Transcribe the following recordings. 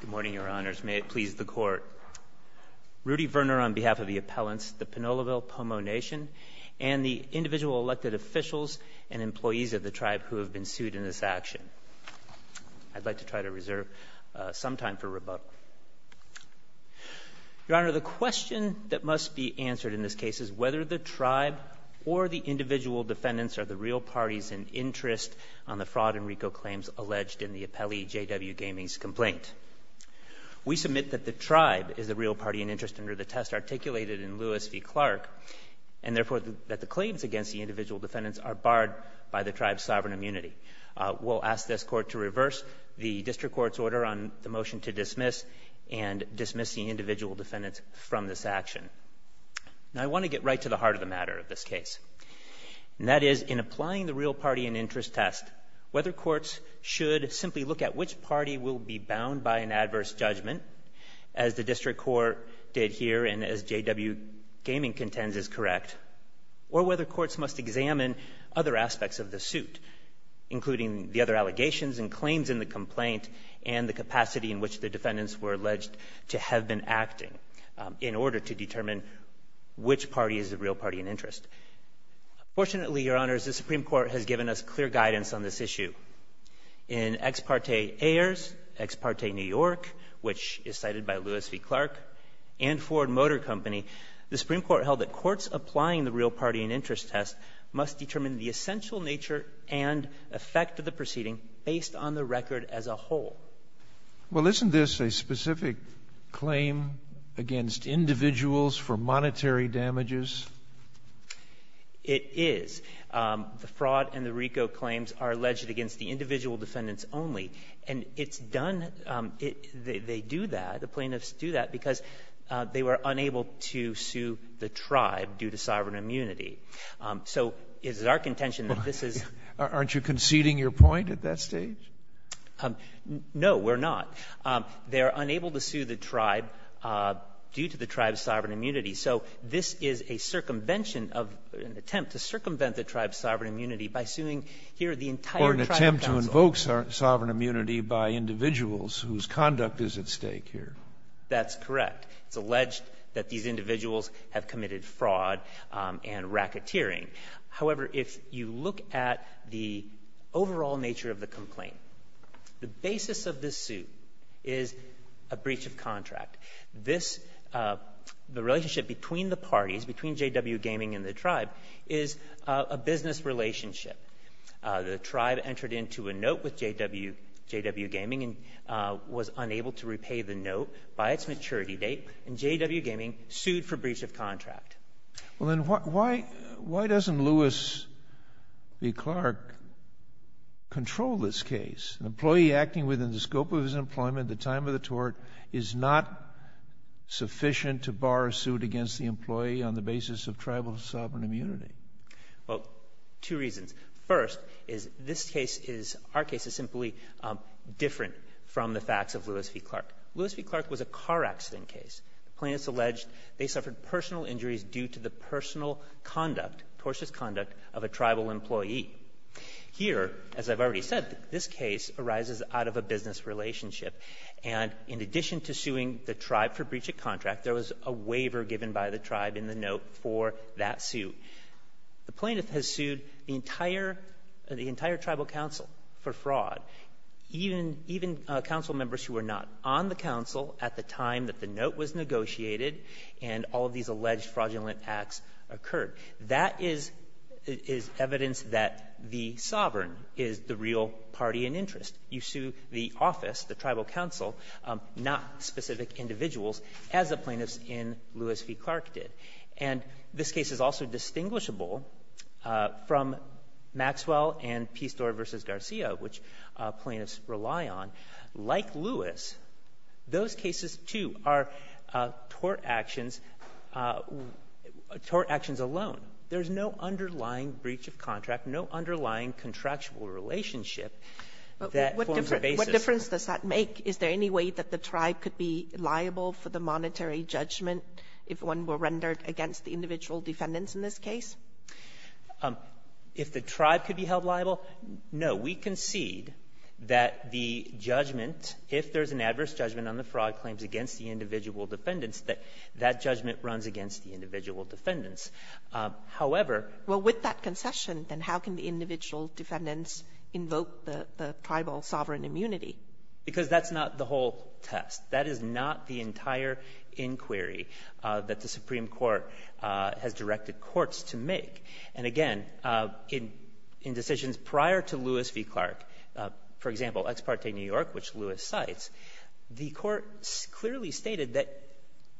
Good morning, Your Honors. May it please the Court. Rudy Verner on behalf of the appellants, the Pinoleville Pomo Nation, and the individual elected officials and employees of the tribe who have been sued in this action. I'd like to try to reserve some time for rebuttal. Your Honor, the question that must be answered in this case is whether the tribe or the individual defendants are the real parties in interest on the fraud and RICO claims alleged in the appellee J.W. Gaming's complaint. We submit that the tribe is the real party in interest under the test articulated in Lewis v. Clark, and therefore that the claims against the individual defendants are barred by the tribe's sovereign immunity. We'll ask this Court to reverse the District Court's order on the motion to dismiss and dismiss the individual defendants from this action. Now I want to get right to the heart of the matter of this case, and that is in applying the real party in interest test, whether courts should simply look at which party will be bound by an adverse judgment, as the District Court did here and as J.W. Gaming contends is correct, or whether courts must examine other aspects of the suit, including the other allegations and claims in the complaint and the capacity in which the defendants were alleged to have been acting in order to determine which party is the real party in interest. Fortunately, Your Honors, the Supreme Court has given us clear guidance on this issue. In Ex parte Ayers, Ex parte New York, which is cited by Lewis v. Clark, and Ford Motor Company, the Supreme Court held that courts applying the real party in interest test must determine the essential nature and effect of the proceeding based on the record as a whole. Well, isn't this a specific claim against individuals for monetary damages? It is. The fraud and the RICO claims are alleged against the individual defendants only, and it's done, they do that, the plaintiffs do that because they were unable to sue the tribe due to sovereign immunity. So is it our contention that this is... Aren't you conceding your point at that stage? No, we're not. They're unable to sue the tribe due to the tribe's sovereign immunity. So this is a circumvention of an attempt to circumvent the tribe's sovereign immunity by suing here the entire tribe council. Or an attempt to invoke sovereign immunity by individuals whose conduct is at stake here. That's correct. It's alleged that these individuals have committed fraud and racketeering. However, if you look at the overall nature of the complaint, the basis of this suit is a breach of contract. This, the relationship between the parties, between JW Gaming and the tribe, is a business relationship. The tribe entered into a note with JW Gaming and was unable to repay the note by its maturity date, and JW Gaming sued for breach of contract. Well, then why doesn't Lewis v. Clark control this case? An employee acting within the scope of his employment at the time of the tort is not sufficient to bar a suit against the employee on the basis of tribal sovereign immunity. Well, two reasons. First, is this case is... Our case is simply different from the facts of Lewis v. Clark. Lewis v. Clark was a car accident case. Plaintiffs alleged they suffered personal injuries due to the personal conduct, tortious conduct, of a tribal employee. Here, as I've already said, this case arises out of a business relationship. And in addition to suing the tribe for breach of contract, there was a waiver given by the tribe in the note for that suit. The plaintiff has sued the entire, the entire tribal council for fraud. Even, even council members who were not on the council at the time that the note was negotiated and all of these alleged fraudulent acts occurred. That is, is evidence that the sovereign is the real party in interest. You sue the office, the tribal council, not specific individuals as the plaintiffs in Lewis v. Clark did. And this case is also distinguishable from Maxwell and Pistore v. Garcia, which plaintiffs rely on. Like Lewis, those cases too are tort actions, tort actions alone. There's no underlying breach of contract no underlying contractual relationship that forms a basis. What difference does that make? Is there any way that the tribe could be liable for the monetary judgment if one were rendered against the individual defendants in this case? If the tribe could be held liable? No. We concede that the judgment, if there's an adverse judgment on the fraud claims against the individual defendants, that that judgment runs against the individual defendants. However... Well, with that concession, then how can the individual defendants invoke the tribal sovereign immunity? Because that's not the whole test. That is not the entire inquiry that the Supreme Court has directed courts to make. And again, in decisions prior to Lewis v. Clark, for example, Ex parte New York, which Lewis cites, the court clearly stated that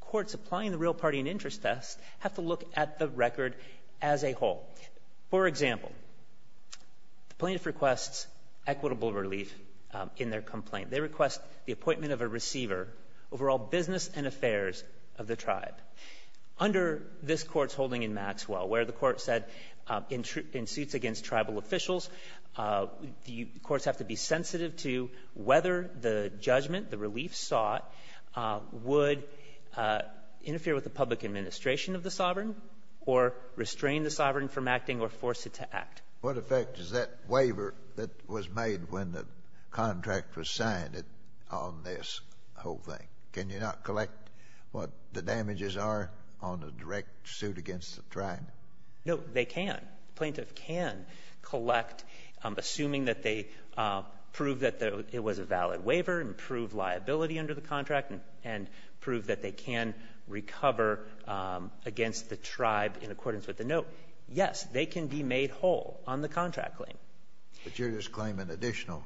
courts applying the real party and interest test have to look at the record as a whole. For example, the plaintiff requests equitable relief in their complaint. They request the appointment of a receiver over all business and affairs of the tribe. Under this court's holding in Maxwell, where the court said in suits against tribal officials, the courts have to be sensitive to whether the judgment, the relief sought, would interfere with the public administration of the sovereign or restrain the sovereign from acting or force it to act. What effect does that waiver that was made when the contract was signed on this whole thing? Can you not collect what the damages are on the direct suit against the tribe? No, they can. The plaintiff can collect, assuming that they prove that it was a valid waiver and prove liability under the contract and prove that they can recover against the tribe in accordance with the note. Yes, they can be made whole on the contract claim. But you're just claiming additional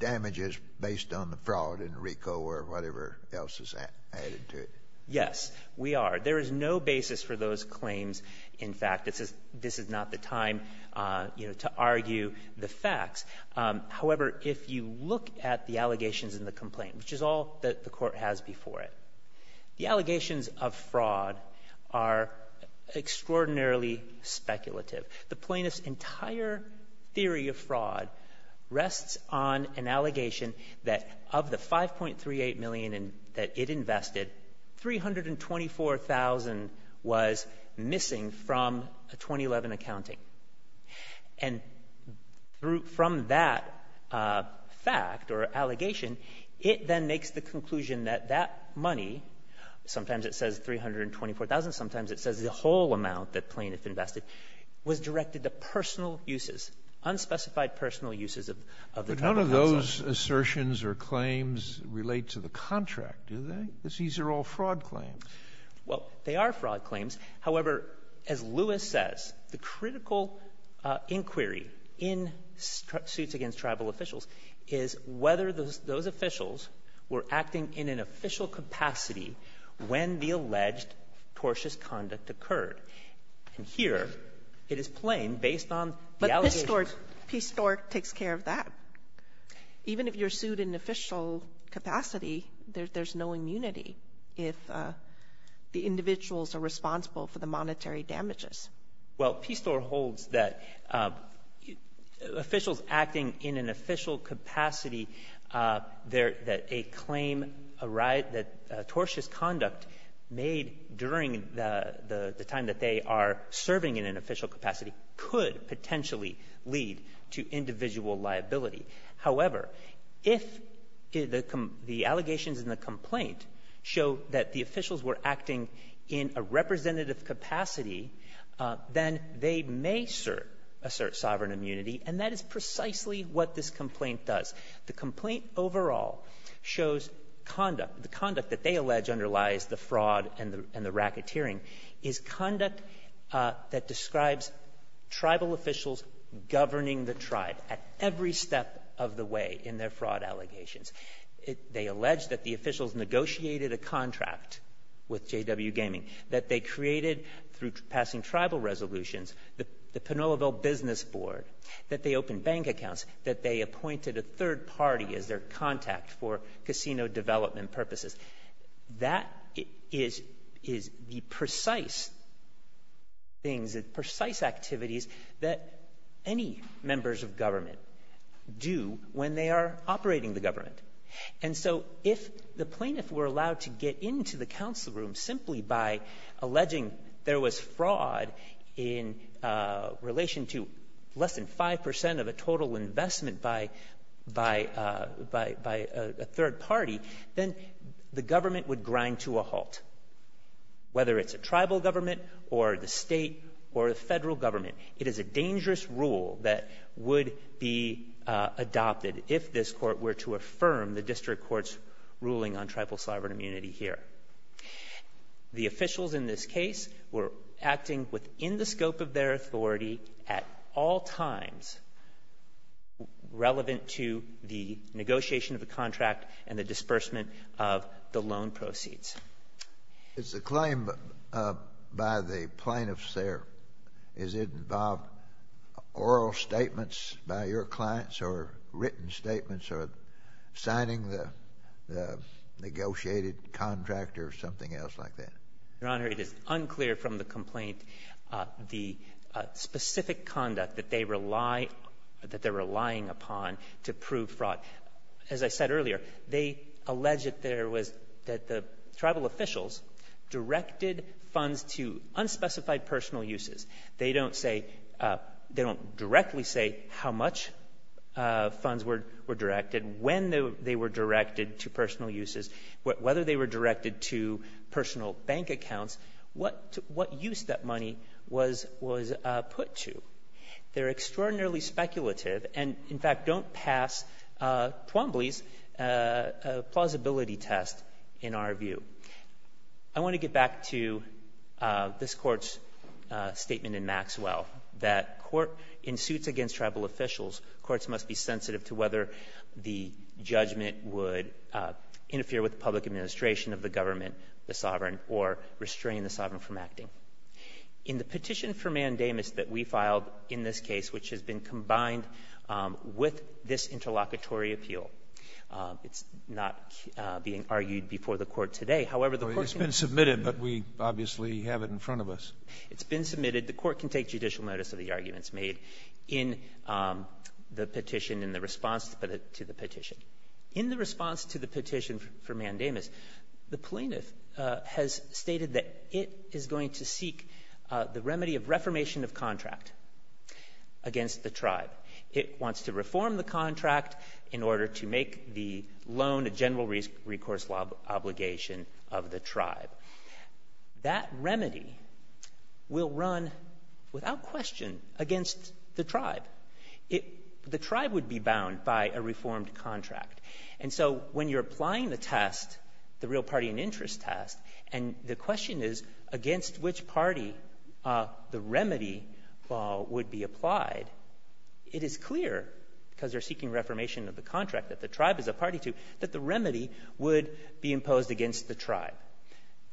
damages based on the fraud in RICO or whatever else is added to it. Yes, we are. There is no basis for those claims. In fact, this is not the time to argue the facts. However, if you look at the allegations in the complaint, which is all that the court has before it, the allegations of fraud are extraordinarily speculative. The plaintiff's entire theory of fraud rests on an allegation that of the $5.38 million that it invested, $324,000 was missing from a 2011 accounting. And from that fact or allegation, it then makes the conclusion that that money, sometimes it says $324,000, sometimes it says the whole amount that the plaintiff invested, was directed to personal uses, unspecified personal uses of the tribe. None of those assertions or claims relate to the contract, do they? Because these are all fraud claims. Well, they are fraud claims. However, as Lewis says, the critical inquiry in suits against tribal officials is whether those officials were acting in an official capacity when the alleged tortious conduct occurred. And here, it is plain based on the allegations. PSTOR takes care of that. Even if you're sued in official capacity, there's no immunity if the individuals are responsible for the monetary damages. Well, PSTOR holds that officials acting in an official capacity, that a claim, a riot, that tortious conduct made during the time that they are serving in an official capacity could potentially lead to individual liability. However, if the allegations in the complaint show that the officials were acting in a representative capacity, then they may assert sovereign immunity and that is precisely what this complaint does. The complaint overall shows conduct, the conduct that they allege underlies the fraud and the tribal officials governing the tribe at every step of the way in their fraud allegations. They allege that the officials negotiated a contract with JW Gaming, that they created through passing tribal resolutions, the Pinoleville Business Board, that they opened bank accounts, that they appointed a third party as their contact for casino development purposes. That is the precise things, the precise activities that any members of government do when they are operating the government. And so if the plaintiff were allowed to get into the council room simply by alleging there was fraud in relation to less than 5% of a total investment by a third party, then that the government would grind to a halt, whether it's a tribal government or the state or the federal government. It is a dangerous rule that would be adopted if this court were to affirm the district court's ruling on tribal sovereign immunity here. The officials in this case were acting within the scope of their authority at all times relevant to the negotiation of the contract and the disbursement of the loan proceeds. Is the claim by the plaintiffs there, does it involve oral statements by your clients or written statements or signing the negotiated contract or something else like that? Your Honor, it is unclear from the complaint the specific conduct that they rely, that they're relying upon to prove fraud. As I said earlier, they allege that there was, that the tribal officials directed funds to unspecified personal uses. They don't say, they don't directly say how much funds were directed, when they were directed to personal bank accounts, what use that money was put to. They're extraordinarily speculative and in fact don't pass Twombly's plausibility test in our view. I want to get back to this court's statement in Maxwell, that court, in suits against tribal officials, courts must be sensitive to whether the judgment would interfere with public administration of the government, the sovereign, or restrain the sovereign from acting. In the petition for mandamus that we filed in this case, which has been combined with this interlocutory appeal, it's not being argued before the court today, however, the court can... It's been submitted, but we obviously have it in front of us. It's been submitted. The court can take judicial notice of the arguments made in the petition in the response to the petition. In the response to the petition for mandamus, the plaintiff has stated that it is going to seek the remedy of reformation of contract against the tribe. It wants to reform the contract in order to make the loan a general recourse obligation of the tribe. That remedy will run, without question, against the tribe. The tribe would be bound by a reformed contract. And so, when you're applying the test, the real party and interest test, and the question is, against which party the remedy would be applied, it is clear, because they're seeking reformation of the contract that the tribe is a party to, that the remedy would be imposed against the tribe.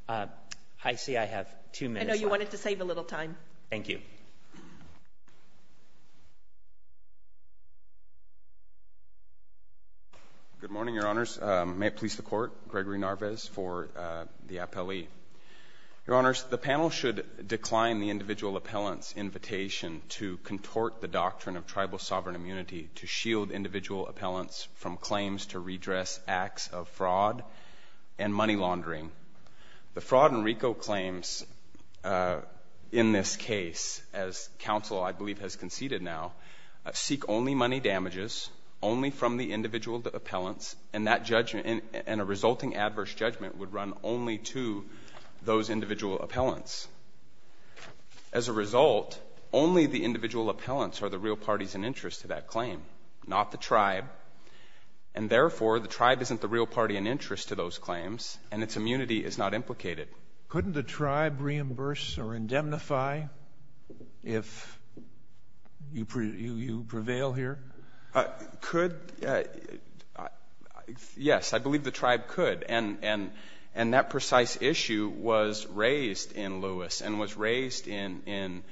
I see I have two minutes left. I know you wanted to save a little time. Thank you. Good morning, Your Honors. May it please the Court, Gregory Narvez for the appellee. Your Honors, the panel should decline the individual appellant's invitation to contort the doctrine of tribal sovereign immunity to shield individual appellants from claims to redress acts of fraud and money laundering. The fraud and RICO claims in this case, as counsel, I believe, has conceded now, seek only money damages, only from the individual appellants, and a resulting adverse judgment would run only to those individual appellants. As a result, only the individual appellants are the real parties and interest to that claim, not the tribe. And therefore, the tribe isn't the real party and interest to those claims, and its immunity is not implicated. Couldn't the tribe reimburse or indemnify if you prevail here? Could? Yes, I believe the tribe could. And that precise issue was raised in Lewis and was raised in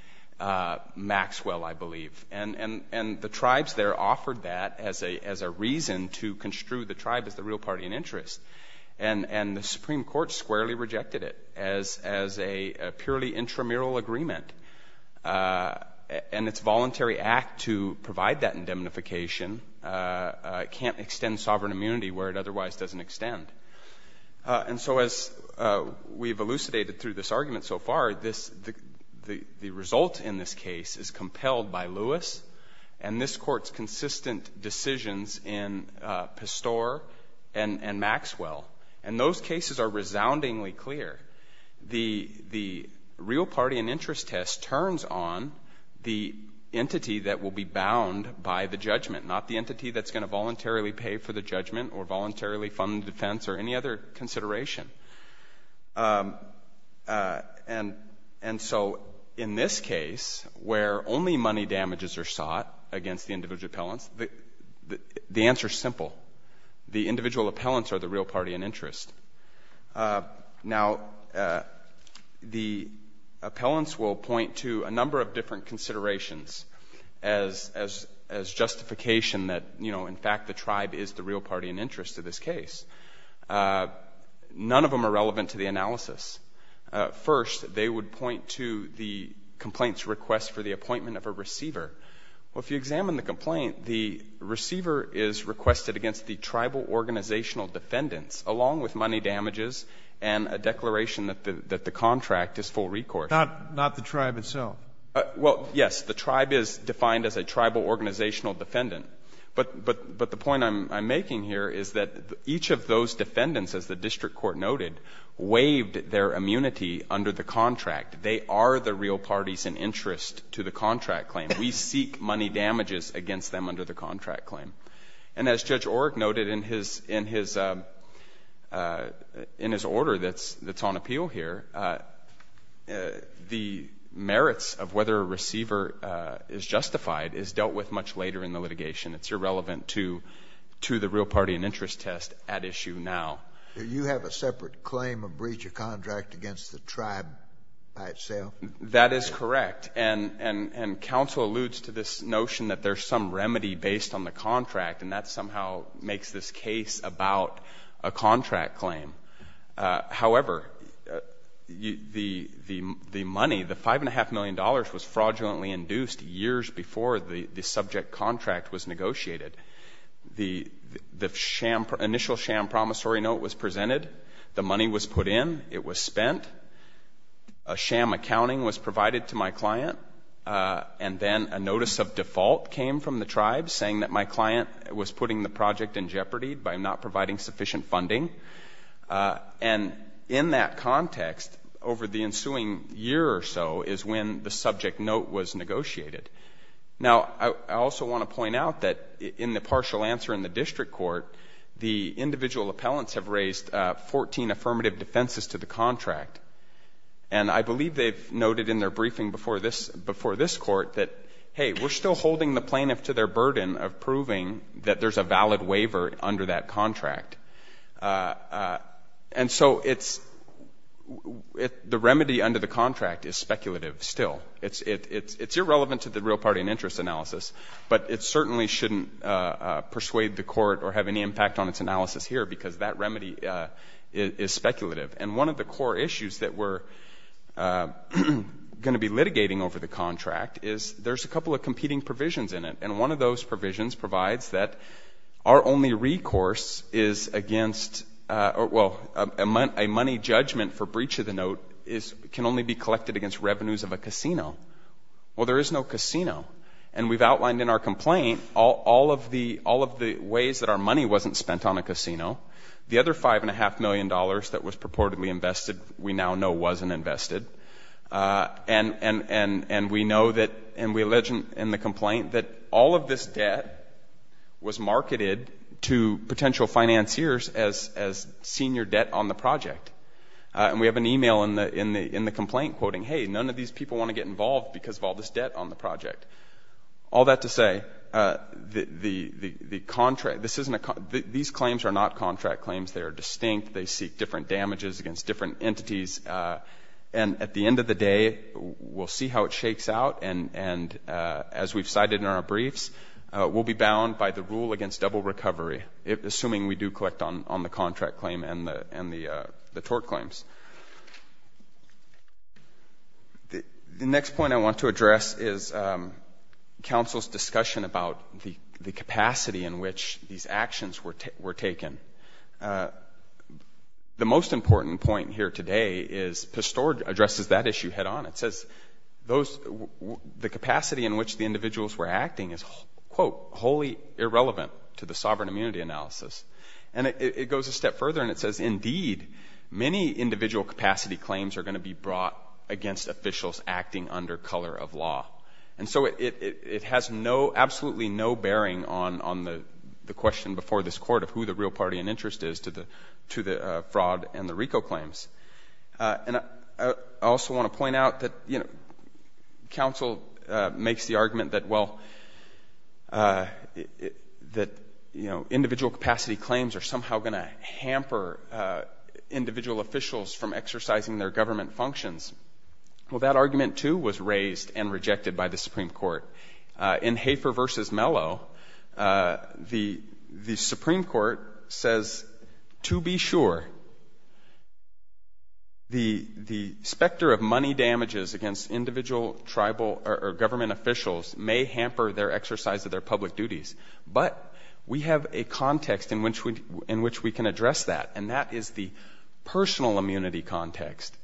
Maxwell, I believe. And the tribes there offered that as a reason to construe the tribe as the real party and interest. And the Supreme Court squarely rejected it as a purely intramural agreement. And its voluntary act to provide that indemnification can't extend sovereign immunity where it otherwise doesn't extend. And so as we've elucidated through this argument so far, the result in this case is compelled by Lewis, and this Court's consistent decisions in Pastore and Maxwell. And those cases are resoundingly clear. The real party and interest test turns on the entity that will be bound by the judgment, not the entity that's going to voluntarily pay for the judgment or voluntarily fund the defense or any other consideration. And so in this case, where only money damages are sought against the individual appellants, the answer's simple. The individual appellants are the real party and interest. Now, the appellants will point to a number of different considerations as justification that, you know, in fact the tribe is the real party and interest of this case. None of them are relevant to the analysis. First, they would point to the complaint's request for the appointment of a receiver. Well, if you examine the complaint, the receiver is requested against the tribal organizational defendants along with money damages and a declaration that the contract is full recourse. Not the tribe itself. Well, yes, the tribe is defined as a tribal organizational defendant. But the point I'm making here is that each of those defendants, as the district court noted, waived their contract. They are the real parties and interest to the contract claim. We seek money damages against them under the contract claim. And as Judge Orrick noted in his order that's on appeal here, the merits of whether a receiver is justified is dealt with much later in the litigation. It's irrelevant to the real party and interest test at issue now. You have a separate claim of breach of contract against the tribe by itself? That is correct. And counsel alludes to this notion that there's some remedy based on the contract, and that somehow makes this case about a contract claim. However, the money, the $5.5 million was fraudulently induced years before the subject contract was negotiated. The initial sham promissory note was presented. The money was put in. It was spent. A sham accounting was provided to my client. And then a notice of default came from the tribe saying that my client was putting the project in jeopardy by not providing sufficient funding. And in that context, over the ensuing year or so is when the subject note was negotiated. Now I also want to point out that in the partial answer in the district court, the individual appellants have raised 14 affirmative defenses to the contract. And I believe they've noted in their briefing before this court that hey, we're still holding the plaintiff to their burden of proving that there's a valid waiver under that contract. And so it's, the remedy under the contract is speculative still. It's irrelevant to the real party and interest analysis, but it certainly shouldn't persuade the court or have any impact on its analysis here because that remedy is speculative. And one of the core issues that we're going to be litigating over the contract is there's a couple of competing provisions in it. And one of those provisions provides that our only recourse is against, well, a money judgment for breach of the note can only be collected against revenues of a casino. Well, there is no casino. And we've outlined in our complaint all of the ways that our money wasn't spent on a casino. The other $5.5 million that was purportedly invested we now know wasn't invested. And we know that, and we allege in the complaint that all of this debt was marketed to potential financiers as senior debt on the project. And we have an email in the complaint quoting, hey, none of these people want to get involved because of all this debt on the project. All that to say, the contract, this isn't a, these claims are not contract claims. They are distinct. They seek different damages against different entities. And at the end of the day, we'll see how it shakes out. And as we've cited in our briefs, we'll be bound by the rule against double recovery, assuming we do collect on the contract claim and the tort claims. The next point I want to address is counsel's discussion about the capacity in which these actions were taken. The most important point here today is, PASTOR addresses that issue head on. It says those, the capacity in which the individuals were acting is, quote, wholly irrelevant to the sovereign immunity analysis. And it goes a step further and it says, indeed, many individual capacity claims are going to be brought against officials acting under color of law. And so it has no, absolutely no bearing on the question before this court of who the real party in interest is to the fraud and the RICO claims. And I also want to point out that, you know, counsel makes the argument that, well, that, you know, individual capacity claims are somehow going to hamper individual officials from exercising their government functions. Well, that argument, too, was raised and rejected by the Supreme Court. In Hafer versus Mello, the Supreme Court says, to be sure, the specter of money damages against individual tribal or government officials may hamper their exercise of their public duties. But we have a context in which we can address that, and that is the personal immunity context.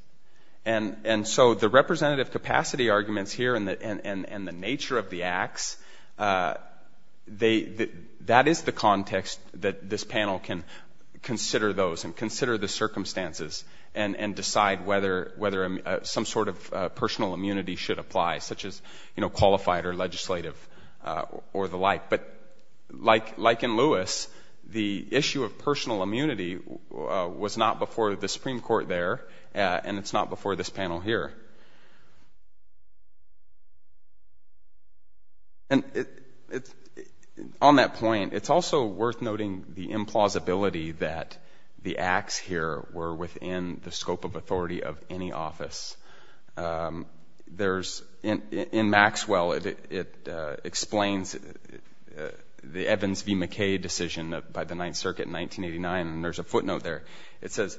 And so the representative capacity arguments here and the nature of the acts, they, that is the context that this panel can consider those and consider the sort of personal immunity should apply, such as, you know, qualified or legislative or the like. But like, like in Lewis, the issue of personal immunity was not before the Supreme Court there, and it's not before this panel here. And it, it's, on that point, it's also worth noting the implausibility that the acts here were within the scope of authority of any office. There's, in, in Maxwell, it, it explains the Evans v. McKay decision by the Ninth Circuit in 1989, and there's a footnote there. It says,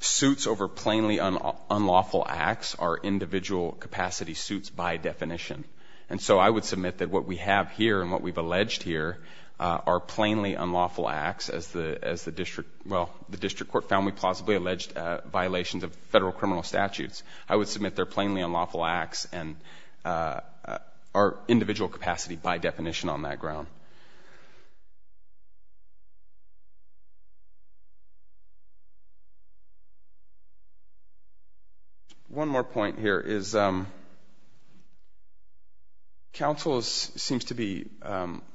suits over plainly unlawful acts are individual capacity suits by definition. And so I would submit that what we have here and what we've alleged here are plainly unlawful acts as the, as the district, well, the district court found we plausibly alleged violations of federal criminal statutes. I would submit they're plainly unlawful acts and are individual capacity by definition on that ground. One more point here is counsels seems to be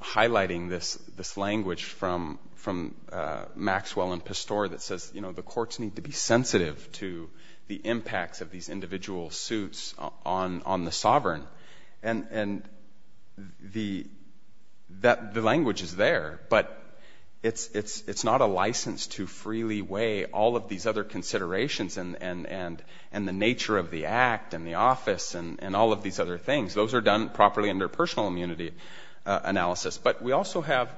highlighting this, this language from, from Maxwell and Pastore that says, you know, the courts need to be sensitive to the impacts of these individual suits on, on the sovereign. And, and the, that, the language is there, but it's, it's, it's not a license to freely weigh all of these other considerations and, and, and the nature of the act and the office and, and all of these other things. Those are done properly under personal immunity analysis, but we also have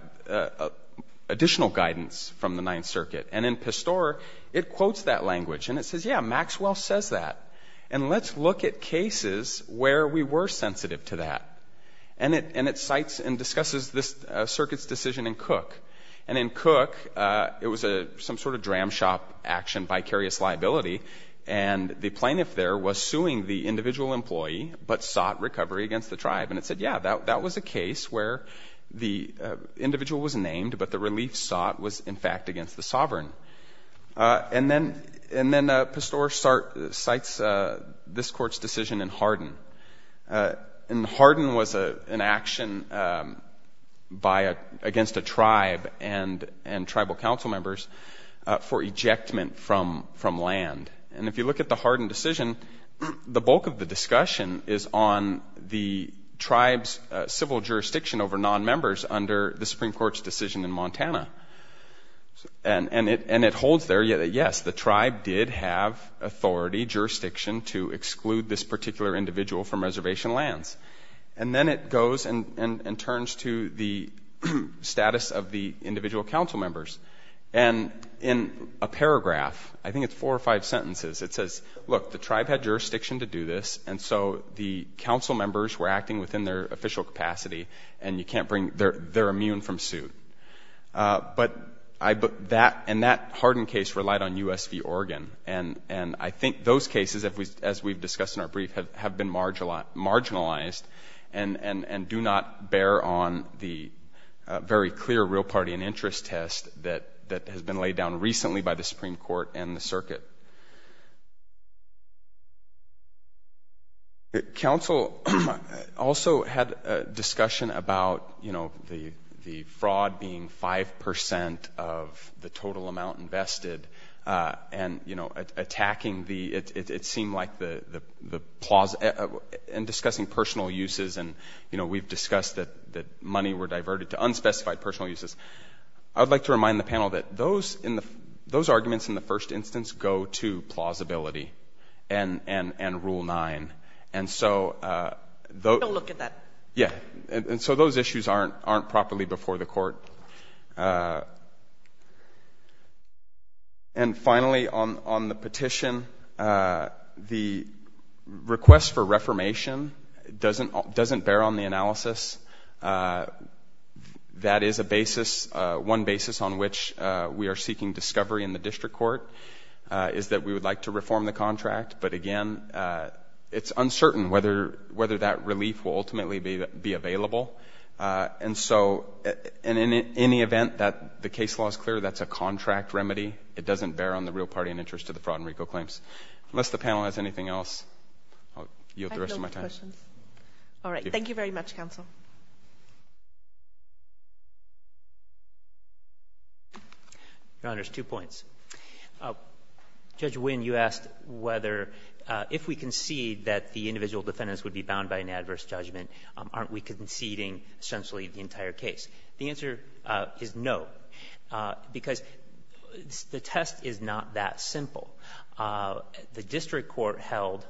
additional guidance from the Ninth Circuit. And in Pastore, it quotes that language and it says, yeah, Maxwell says that. And let's look at cases where we were sensitive to that. And it, and it cites and discusses this circuit's decision in Cook. And in Cook, it was a, some sort of dram shop action, vicarious liability. And the plaintiff there was suing the individual employee, but sought recovery against the tribe. And it said, yeah, that, that was a case where the individual was named, but the relief sought was in fact against the sovereign. And then, and then Pastore sites this court's decision in Hardin. And Hardin was an action by, against a tribe and, and tribal council members for ejectment from, from land. And if you look at the Hardin decision, the bulk of the discussion is on the tribe's civil jurisdiction over non-members under the Supreme Court's decision in Montana. And, and it, and it holds there that yes, the tribe did have authority, jurisdiction to exclude this particular individual from reservation lands. And then it goes and, and, and turns to the status of the individual in five sentences. It says, look, the tribe had jurisdiction to do this, and so the council members were acting within their official capacity, and you can't bring, they're, they're immune from suit. But I, that, and that Hardin case relied on USV Oregon. And, and I think those cases, as we, as we've discussed in our brief, have, have been marginalized, marginalized, and do not bear on the very clear real party and interest test that, that has been laid down recently by the Supreme Court and the circuit. Council also had a discussion about, you know, the, the fraud being 5 percent of the total amount invested and, you know, attacking the, it, it, it seemed like the, the, the plaza, and discussing personal uses. And, you know, we've discussed that, that money were diverted to unspecified personal uses. I would like to remind the panel that those in the, those arguments in the first instance go to plausibility and, and, and Rule 9. And so, those... Don't look at that. Yeah. And, and so those issues aren't, aren't properly before the court. And finally, on, on the petition, the request for reformation doesn't, doesn't bear on the analysis. The that is a basis, one basis on which we are seeking discovery in the district court is that we would like to reform the contract. But again, it's uncertain whether, whether that relief will ultimately be, be available. And so, and in, in any event that the case law is clear, that's a contract remedy. It doesn't bear on the real party and interest to the fraud and RICO claims. Unless the panel has anything else, I'll yield the rest of my time. I have no questions. All right. Thank you very much, Council. Your Honor, there's two points. Judge Wynn, you asked whether, if we concede that the individual defendants would be bound by an adverse judgment, aren't we conceding essentially the entire case? The answer is no. Because the test is not that simple. The district court held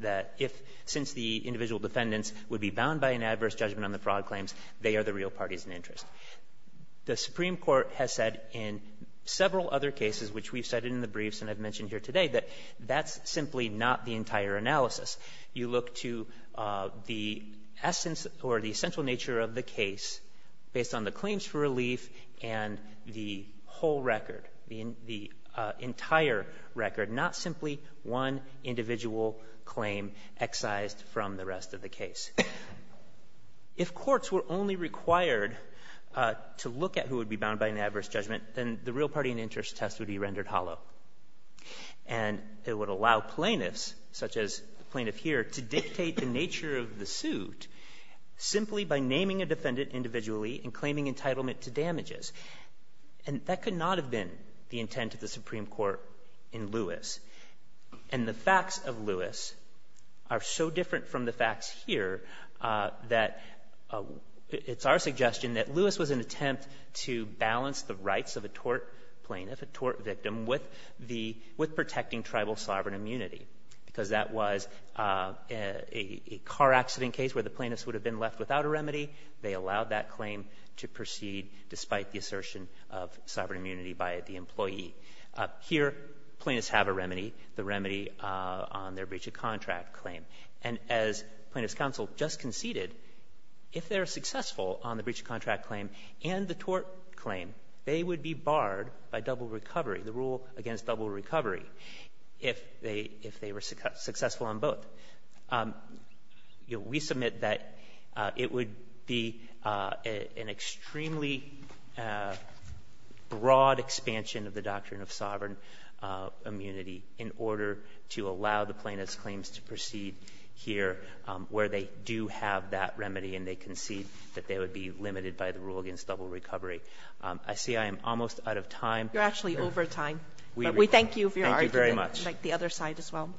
that if, since the individual defendants would be bound by an adverse judgment on the real parties and interest. The Supreme Court has said in several other cases, which we've cited in the briefs and I've mentioned here today, that that's simply not the entire analysis. You look to the essence or the essential nature of the case based on the claims for relief and the whole record, the entire record, not simply one individual claim excised from the rest of the case. If courts were only required to look at who would be bound by an adverse judgment, then the real party and interest test would be rendered hollow. And it would allow plaintiffs, such as the plaintiff here, to dictate the nature of the suit simply by naming a defendant individually and claiming entitlement to damages. And that could not have been the intent of the Supreme Court in Lewis. And the facts of Lewis are so different from the facts here that it's our suggestion that Lewis was an attempt to balance the rights of a tort plaintiff, a tort victim, with protecting tribal sovereign immunity. Because that was a car accident case where the plaintiffs would have been left without a remedy. They allowed that claim to proceed despite the assertion of sovereign immunity by the employee. Here, plaintiffs have a remedy, the remedy on their breach of contract claim. And as plaintiffs' counsel just conceded, if they're successful on the breach of contract claim and the tort claim, they would be barred by double recovery, the rule against double recovery, if they were successful on both. We submit that it would be an extremely broad expansion of the doctrine of sovereign immunity in order to allow the plaintiffs' claims to proceed here where they do have that remedy and they concede that they would be limited by the rule against double recovery. I see I am almost out of time. You're actually over time. We thank you for your argument. Thank you very much. I'd like the other side as well.